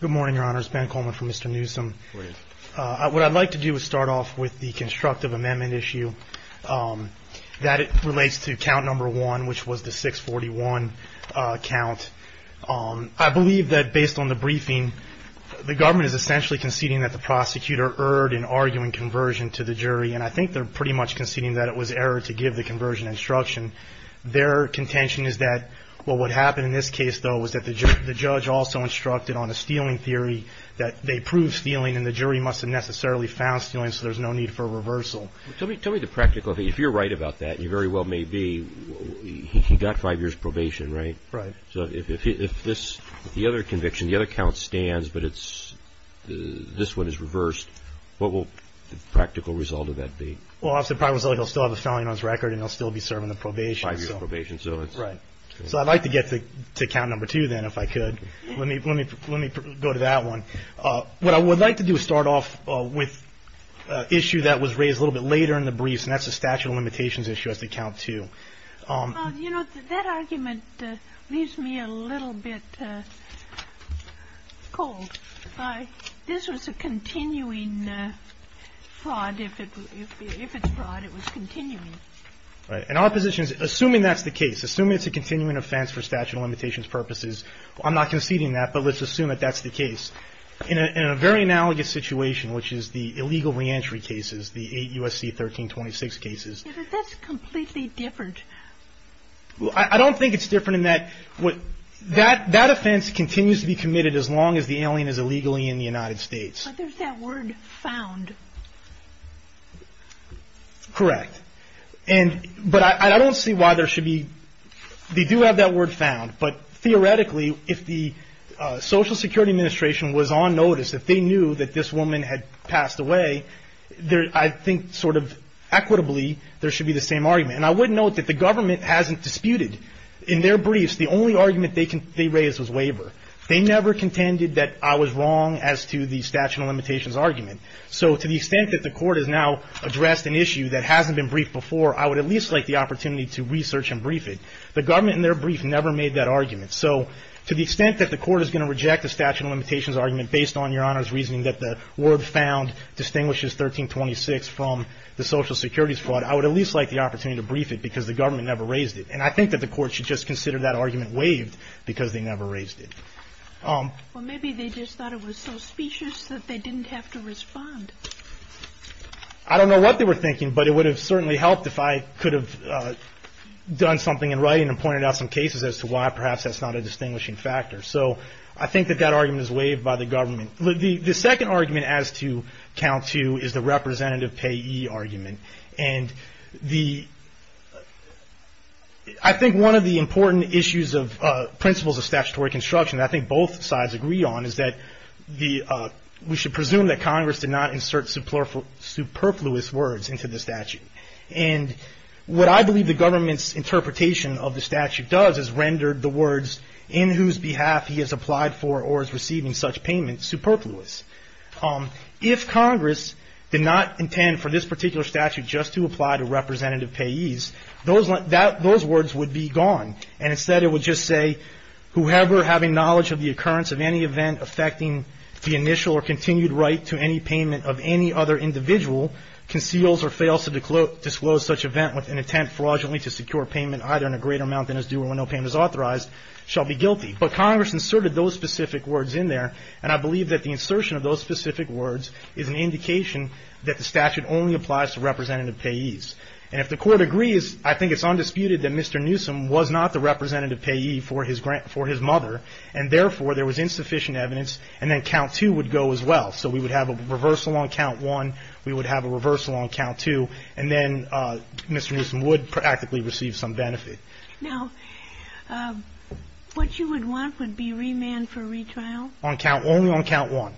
Good morning, your honors. Ben Coleman from Mr. Neusom. What I'd like to do is start off with the constructive amendment issue that relates to count number one, which was the 641 count. I believe that based on the briefing, the government is essentially conceding that the prosecutor erred in arguing conversion to the jury, and I think they're pretty much conceding that it was error to give the conversion instruction. Their contention is that what would happen in this case, though, was that the judge also instructed on a stealing theory that they proved stealing, and the jury must have necessarily found stealing, so there's no need for a reversal. Tell me the practical, if you're right about that, and you very well may be, he got five years probation, right? Right. So if this, the other conviction, the other count stands, but it's, this one is reversed, what will the practical result of that be? Well, as a result, he'll still have a felony on his record, and he'll still be serving the probation. Five years probation, so it's... Right. So I'd like to get to count number two, then, if I could. Let me go to that one. What I would like to do is start off with an issue that was raised a little bit later in the briefs, and that's the statute of limitations issue as to count two. Well, you know, that argument leaves me a little bit cold. This was a continuing fraud. If it's fraud, it was continuing. Right. And our position is, assuming that's the case, assuming it's a continuing offense for statute of limitations purposes, I'm not conceding that, but let's assume that that's the case. In a very analogous situation, which is the illegal reentry cases, the eight USC 1326 cases... Yeah, but that's completely different. I don't think it's different in that, that offense continues to be committed as long as the alien is illegally in the United States. But there's that word, found. Correct. But I don't see why there should be... They do have that word, found, but theoretically, if the Social Security Administration was on notice, if they knew that this woman had passed away, I think, sort of, equitably, there should be the same argument. And I would note that the government hasn't disputed. In their briefs, the only argument they raised was waiver. They never contended that I was wrong as to the statute of limitations argument. So, to the extent that the court has now addressed an issue that hasn't been briefed before, I would at least like the opportunity to research and brief it. The government, in their brief, never made that argument. So, to the extent that the court is going to reject the statute of limitations argument based on Your Honor's reasoning that the word, found, distinguishes 1326 from the Social Security's fraud, I would at least like the opportunity to brief it because the government never raised it. And I think that the court should just consider that argument waived because they never raised it. Well, maybe they just thought it was so specious that they didn't have to respond. I don't know what they were thinking, but it would have certainly helped if I could have done something in writing and pointed out some cases as to why perhaps that's not a distinguishing factor. So, I think that that argument is waived by the government. The second argument as to count two is the representative payee argument. And I think one of the important issues of principles of statutory construction that I think both sides agree on is that we should presume that Congress did not insert superfluous words into the statute. And what I believe the government's interpretation of the statute does is rendered the words in whose behalf he has applied for or is receiving such payment superfluous. If Congress did not intend for this particular statute just to apply to representative payees, those words would be gone. And instead it would just say, whoever having knowledge of the occurrence of any event affecting the initial or continued right to any payment of any other individual conceals or fails to disclose such event with an intent fraudulently to secure payment either in a greater amount than is due or when no payment is authorized, shall be guilty. But Congress inserted those specific words in there, and I believe that the insertion of those specific words is an indication that the statute only applies to representative payees. And if the Court agrees, I think it's undisputed that Mr. Newsom was not the representative payee for his mother, and therefore there was insufficient evidence, and then count two would go as well. So we would have a reversal on count one, we would have a reversal on count two, and then Mr. Newsom would practically receive some benefit. Now, what you would want would be remand for retrial? Only on count one.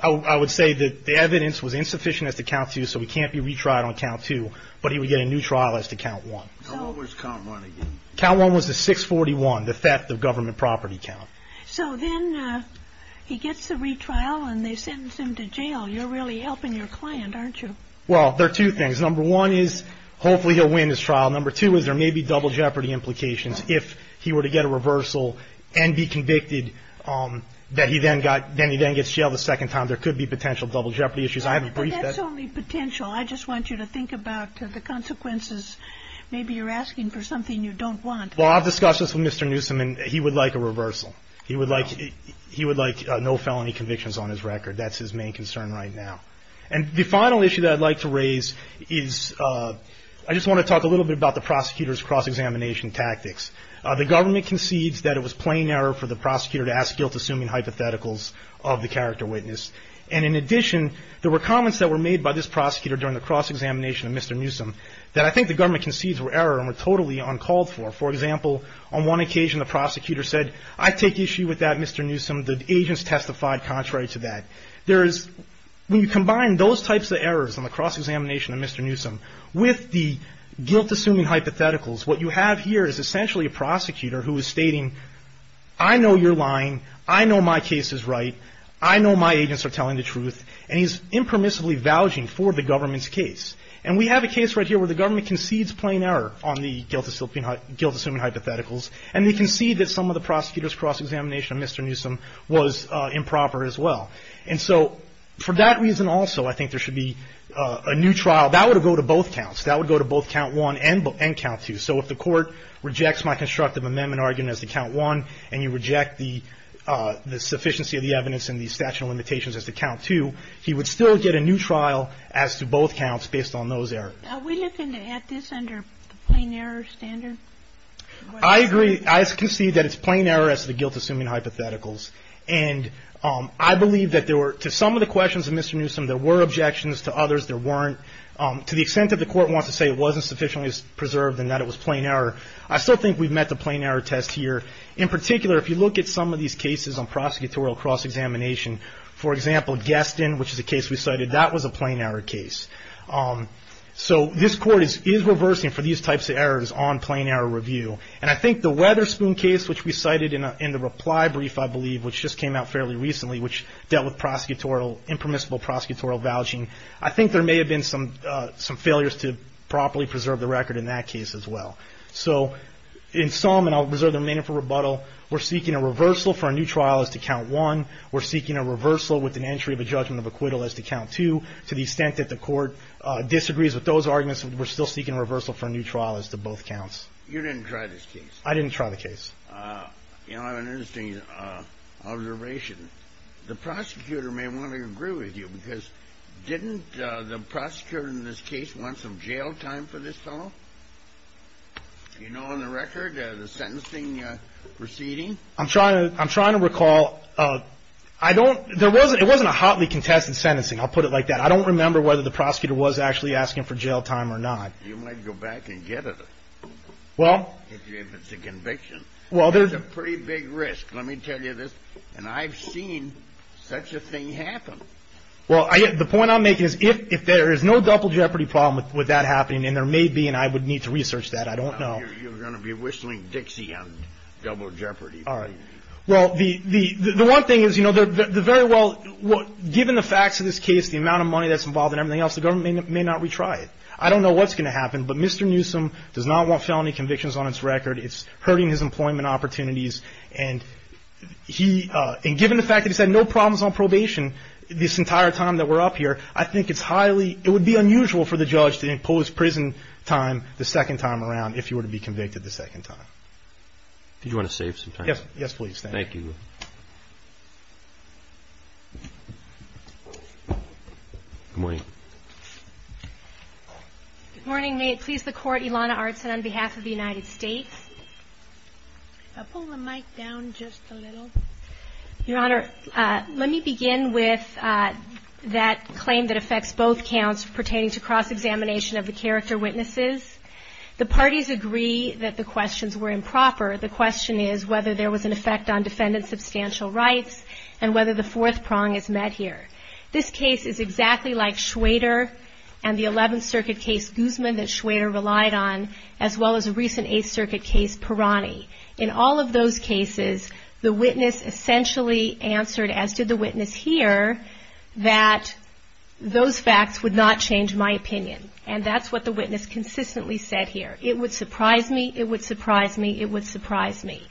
I would say that the evidence was insufficient as to count two, so he can't be retried on count two, but he would get a new trial as to count one. So what was count one again? Count one was the 641, the theft of government property count. So then he gets the retrial and they sentence him to jail. You're really helping your client, aren't you? Well, there are two things. Number one is hopefully he'll win his trial. Number two is there may be double jeopardy implications if he were to get a reversal and be convicted, that he then gets jailed a second time. There could be potential double jeopardy issues. I haven't briefed that. But that's only potential. I just want you to think about the consequences. Maybe you're asking for something you don't want. Well, I've discussed this with Mr. Newsom, and he would like a reversal. He would like no felony convictions on his record. That's his main concern right now. And the final issue that I'd like to raise is I just want to talk a little bit about the prosecutor's cross-examination tactics. The government concedes that it was plain error for the prosecutor to ask guilt-assuming hypotheticals of the character witness. And in addition, there were comments that were made by this prosecutor during the cross-examination of Mr. Newsom that I think the government concedes were error and were totally uncalled for. For example, on one occasion the prosecutor said, I take issue with that, Mr. Newsom. The agents testified contrary to that. When you combine those types of errors in the cross-examination of Mr. Newsom with the guilt-assuming hypotheticals, what you have here is essentially a prosecutor who is stating, I know you're lying. I know my case is right. I know my agents are telling the truth. And he's impermissibly vouching for the government's case. And we have a case right here where the government concedes plain error on the guilt-assuming hypotheticals, and they concede that some of the prosecutor's cross-examination of Mr. Newsom was improper as well. And so for that reason also, I think there should be a new trial. That would go to both counts. That would go to both count one and count two. So if the court rejects my constructive amendment argument as to count one, and you reject the sufficiency of the evidence and the statute of limitations as to count two, he would still get a new trial as to both counts based on those errors. Are we looking at this under the plain error standard? I agree. I concede that it's plain error as to the guilt-assuming hypotheticals. And I believe that there were, to some of the questions of Mr. Newsom, there were objections. To others, there weren't. To the extent that the court wants to say it wasn't sufficiently preserved and that it was plain error, I still think we've met the plain error test here. In particular, if you look at some of these cases on prosecutorial cross-examination, for example, Gaston, which is a case we cited, that was a plain error case. So this court is reversing for these types of errors on plain error review. And I think the Weatherspoon case, which we cited in the reply brief, I believe, which just came out fairly recently, which dealt with impermissible prosecutorial vouching, I think there may have been some failures to properly preserve the record in that case as well. So in sum, and I'll reserve the remaining for rebuttal, we're seeking a reversal for a new trial as to count one. We're seeking a reversal with an entry of a judgment of acquittal as to count two. To the extent that the court disagrees with those arguments, we're still seeking a reversal for a new trial as to both counts. You didn't try this case. I didn't try the case. You know, I have an interesting observation. The prosecutor may want to agree with you because didn't the prosecutor in this case want some jail time for this fellow? Do you know on the record the sentencing proceeding? I'm trying to recall. I don't – it wasn't a hotly contested sentencing. I'll put it like that. I don't remember whether the prosecutor was actually asking for jail time or not. You might go back and get it if it's a conviction. Well, there's a pretty big risk. Let me tell you this. And I've seen such a thing happen. Well, the point I'm making is if there is no double jeopardy problem with that happening, and there may be and I would need to research that, I don't know. You're going to be whistling Dixie on double jeopardy. All right. Well, the one thing is, you know, the very well – given the facts of this case, the amount of money that's involved and everything else, the government may not retry it. I don't know what's going to happen, but Mr. Newsom does not want felony convictions on his record. It's hurting his employment opportunities. And he – and given the fact that he's had no problems on probation this entire time that we're up here, I think it's highly – it would be unusual for the judge to impose prison time the second time around if he were to be convicted the second time. Do you want to save some time? Yes, please. Thank you. Good morning. Good morning. May it please the Court, Ilana Artsin on behalf of the United States. Pull the mic down just a little. Your Honor, let me begin with that claim that affects both counts pertaining to cross-examination of the character witnesses. The parties agree that the questions were improper. The question is whether there was an effect on defendant's substantial rights and whether the fourth prong is met here. This case is exactly like Schrader and the 11th Circuit case Guzman that Schrader relied on, as well as a recent 8th Circuit case Parani. In all of those cases, the witness essentially answered, as did the witness here, that those facts would not change my opinion. And that's what the witness consistently said here. It would surprise me. It would surprise me. It would surprise me.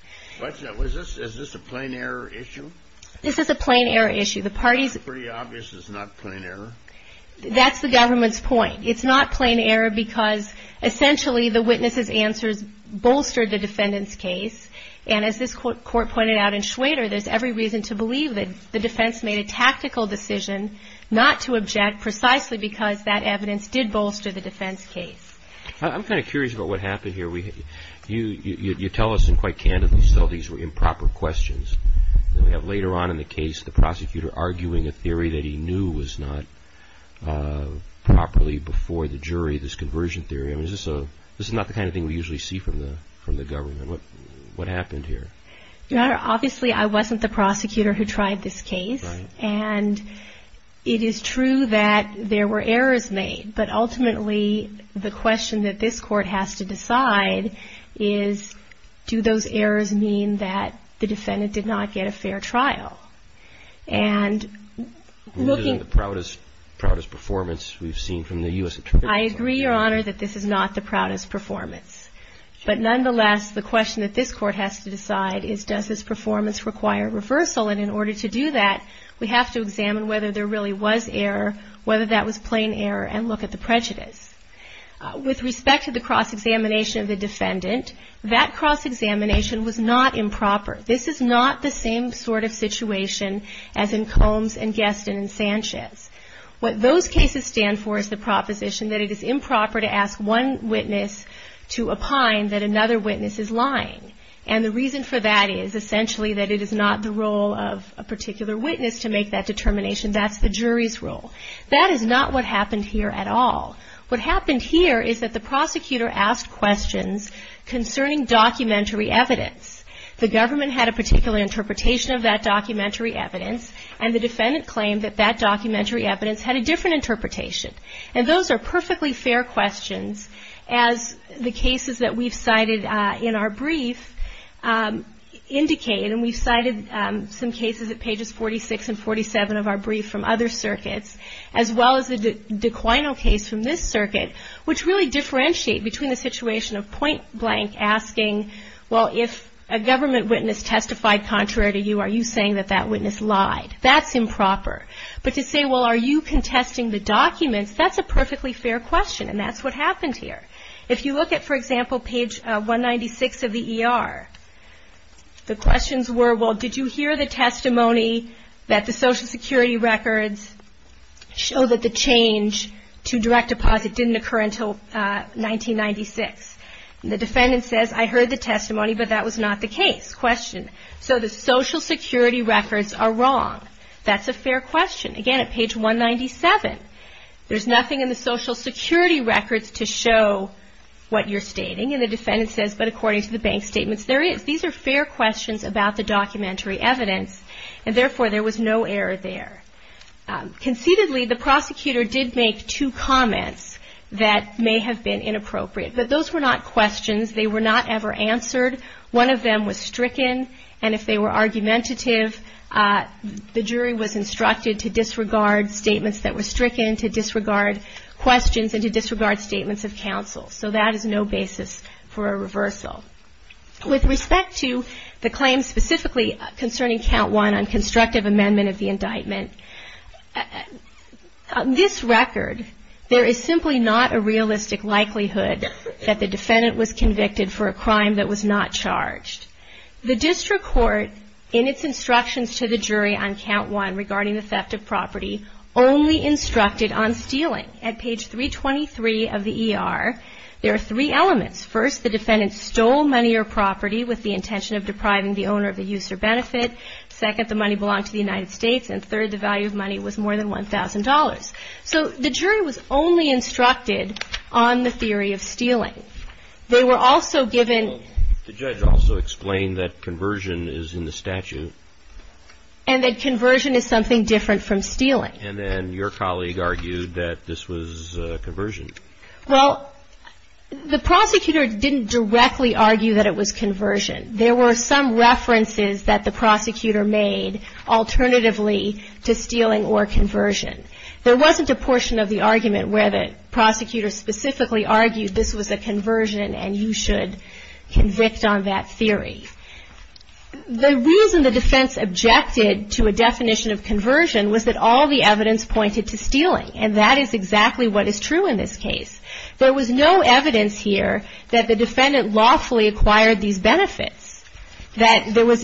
Is this a plain error issue? This is a plain error issue. It's pretty obvious it's not plain error. That's the government's point. It's not plain error because essentially the witness's answers bolstered the defendant's case. And as this Court pointed out in Schrader, there's every reason to believe that the defense made a tactical decision not to object precisely because that evidence did bolster the defense case. I'm kind of curious about what happened here. You tell us and quite candidly still these were improper questions. We have later on in the case the prosecutor arguing a theory that he knew was not properly before the jury, this conversion theory. This is not the kind of thing we usually see from the government. What happened here? Your Honor, obviously I wasn't the prosecutor who tried this case. Right. And it is true that there were errors made. But ultimately the question that this Court has to decide is, do those errors mean that the defendant did not get a fair trial? And looking at the proudest performance we've seen from the U.S. Attorney's Office. I agree, Your Honor, that this is not the proudest performance. But nonetheless, the question that this Court has to decide is, does this performance require reversal? And in order to do that, we have to examine whether there really was error, whether that was plain error, and look at the prejudice. With respect to the cross-examination of the defendant, that cross-examination was not improper. This is not the same sort of situation as in Combs and Guestin and Sanchez. What those cases stand for is the proposition that it is improper to ask one witness to opine that another witness is lying. And the reason for that is essentially that it is not the role of a particular witness to make that determination. That's the jury's role. That is not what happened here at all. What happened here is that the prosecutor asked questions concerning documentary evidence. The government had a particular interpretation of that documentary evidence, and the defendant claimed that that documentary evidence had a different interpretation. And those are perfectly fair questions, as the cases that we've cited in our brief indicate. And we've cited some cases at pages 46 and 47 of our brief from other circuits, as well as the De Quino case from this circuit, which really differentiate between the situation of point blank asking, well, if a government witness testified contrary to you, are you saying that that witness lied? That's improper. But to say, well, are you contesting the documents? That's a perfectly fair question, and that's what happened here. If you look at, for example, page 196 of the ER, the questions were, well, did you hear the testimony that the Social Security records show that the change to direct deposit didn't occur until 1996? And the defendant says, I heard the testimony, but that was not the case. Question. So the Social Security records are wrong. That's a fair question. Again, at page 197, there's nothing in the Social Security records to show what you're stating. And the defendant says, but according to the bank statements, there is. These are fair questions about the documentary evidence, and therefore, there was no error there. Conceitedly, the prosecutor did make two comments that may have been inappropriate, but those were not questions. They were not ever answered. One of them was stricken, and if they were argumentative, the jury was instructed to disregard statements that were stricken, to disregard questions, and to disregard statements of counsel. So that is no basis for a reversal. With respect to the claims specifically concerning Count 1 on constructive amendment of the indictment, on this record, there is simply not a realistic likelihood that the defendant was convicted for a crime that was not charged. The district court, in its instructions to the jury on Count 1 regarding the theft of property, only instructed on stealing. At page 323 of the ER, there are three elements. First, the defendant stole money or property with the intention of depriving the owner of the use or benefit. Second, the money belonged to the United States. And third, the value of money was more than $1,000. So the jury was only instructed on the theory of stealing. They were also given. The judge also explained that conversion is in the statute. And that conversion is something different from stealing. And then your colleague argued that this was conversion. Well, the prosecutor didn't directly argue that it was conversion. There were some references that the prosecutor made alternatively to stealing or conversion. There wasn't a portion of the argument where the prosecutor specifically argued this was a conversion and you should convict on that theory. The reason the defense objected to a definition of conversion was that all the evidence pointed to stealing. And that is exactly what is true in this case. There was no evidence here that the defendant lawfully acquired these benefits, that there was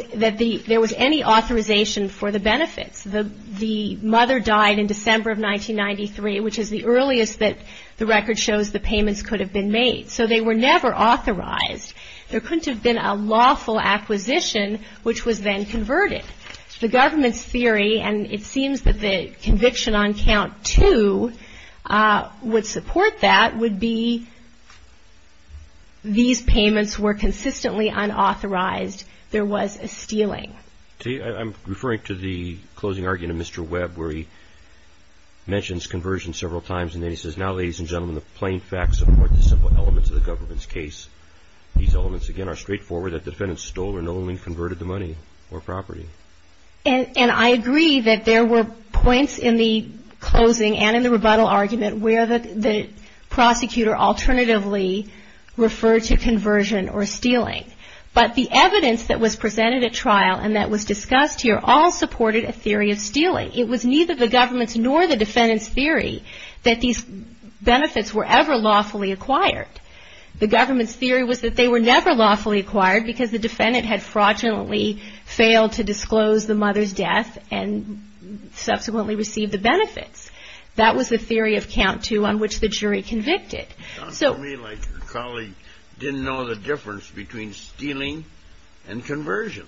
any authorization for the benefits. The mother died in December of 1993, which is the earliest that the record shows the payments could have been made. So they were never authorized. There couldn't have been a lawful acquisition, which was then converted. The government's theory, and it seems that the conviction on count two would support that, would be these payments were consistently unauthorized. There was a stealing. I'm referring to the closing argument of Mr. Webb where he mentions conversion several times, and then he says, now, ladies and gentlemen, the plain facts support the simple elements of the government's case. These elements, again, are straightforward. That defendant stole and only converted the money or property. And I agree that there were points in the closing and in the rebuttal argument where the prosecutor alternatively referred to conversion or stealing. But the evidence that was presented at trial and that was discussed here all supported a theory of stealing. It was neither the government's nor the defendant's theory that these benefits were ever lawfully acquired. The government's theory was that they were never lawfully acquired because the defendant had fraudulently failed to disclose the mother's death and subsequently received the benefits. That was the theory of count two on which the jury convicted. It sounds to me like your colleague didn't know the difference between stealing and conversion.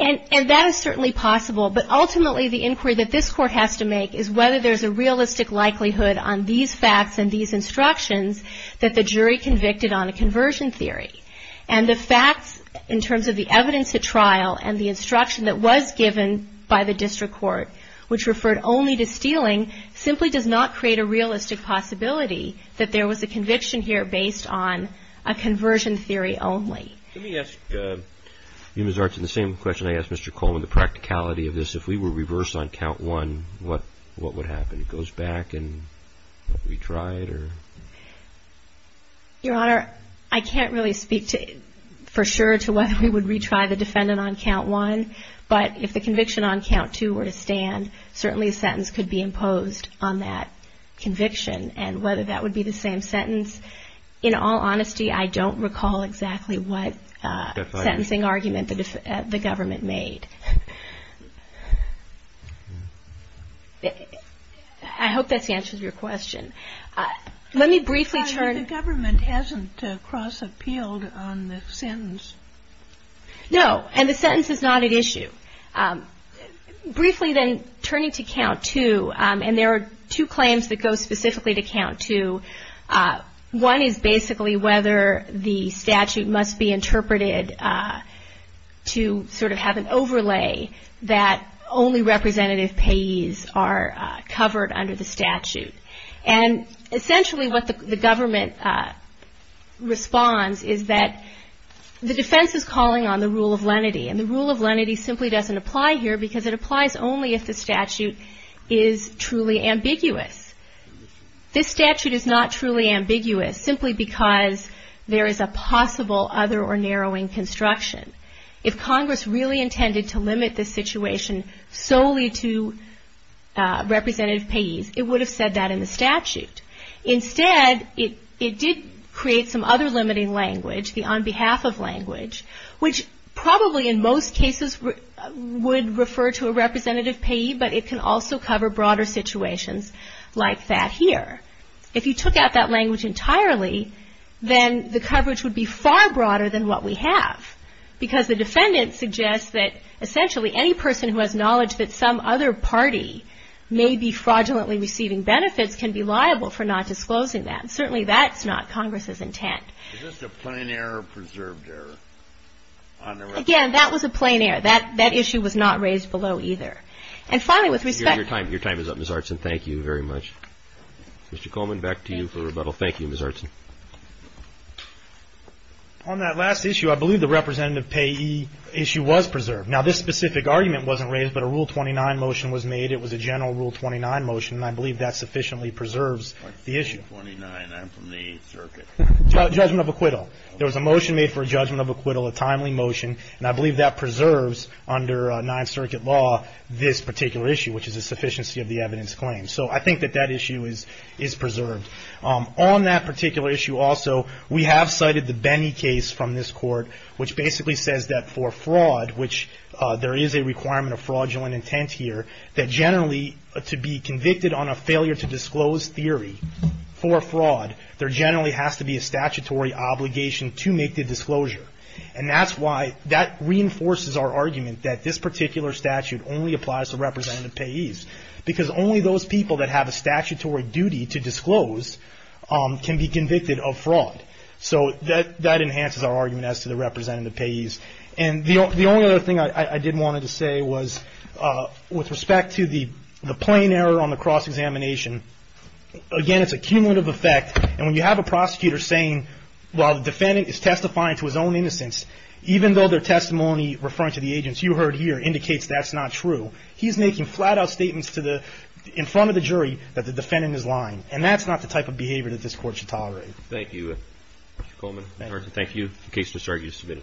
And that is certainly possible, but ultimately the inquiry that this court has to make is whether there's a realistic likelihood on these facts and these instructions that the jury convicted on a conversion theory. And the facts in terms of the evidence at trial and the instruction that was given by the district court, which referred only to stealing, simply does not create a realistic possibility that there was a conviction here based on a conversion theory only. Let me ask you, Ms. Archin, the same question I asked Mr. Coleman, the practicality of this. If we were reversed on count one, what would happen? It goes back and we try it or? Your Honor, I can't really speak for sure to whether we would retry the defendant on count one. But if the conviction on count two were to stand, certainly a sentence could be imposed on that conviction. And whether that would be the same sentence, in all honesty, I don't recall exactly what sentencing argument the government made. I hope that answers your question. Let me briefly turn. Your Honor, the government hasn't cross-appealed on the sentence. No, and the sentence is not at issue. Briefly then, turning to count two, and there are two claims that go specifically to count two. One is basically whether the statute must be interpreted to sort of have an overlay that only representative payees are covered under the statute. And essentially what the government responds is that the defense is calling on the rule of lenity. And the rule of lenity simply doesn't apply here because it applies only if the statute is truly ambiguous. This statute is not truly ambiguous simply because there is a possible other or narrowing construction. If Congress really intended to limit this situation solely to representative payees, it would have said that in the statute. Instead, it did create some other limiting language, the on behalf of language, which probably in most cases would refer to a representative payee, but it can also cover broader situations like that here. If you took out that language entirely, then the coverage would be far broader than what we have because the defendant suggests that essentially any person who has knowledge that some other party may be fraudulently receiving benefits can be liable for not disclosing that. And certainly that's not Congress's intent. Is this a plain error or preserved error on the record? Again, that was a plain error. That issue was not raised below either. And finally, with respect to the statute. Your time is up, Ms. Artson. Thank you very much. Mr. Coleman, back to you for rebuttal. Thank you, Ms. Artson. On that last issue, I believe the representative payee issue was preserved. Now, this specific argument wasn't raised, but a Rule 29 motion was made. It was a general Rule 29 motion, and I believe that sufficiently preserves the issue. Rule 29, I'm from the Eighth Circuit. Judgment of acquittal. There was a motion made for a judgment of acquittal, a timely motion, and I believe that preserves under Ninth Circuit law this particular issue, which is a sufficiency of the evidence claimed. So I think that that issue is preserved. On that particular issue also, we have cited the Benny case from this court, which basically says that for fraud, which there is a requirement of fraudulent intent here, that generally to be convicted on a failure to disclose theory for fraud, there generally has to be a statutory obligation to make the disclosure. And that's why that reinforces our argument that this particular statute only applies to representative payees, because only those people that have a statutory duty to disclose can be convicted of fraud. So that enhances our argument as to the representative payees. And the only other thing I did want to say was with respect to the plain error on the cross-examination, again, it's a cumulative effect, and when you have a prosecutor saying, while the defendant is testifying to his own innocence, even though their testimony referring to the agents you heard here indicates that's not true, he's making flat-out statements in front of the jury that the defendant is lying. And that's not the type of behavior that this Court should tolerate. Thank you, Mr. Coleman. Thank you. The case has started. You're submitted.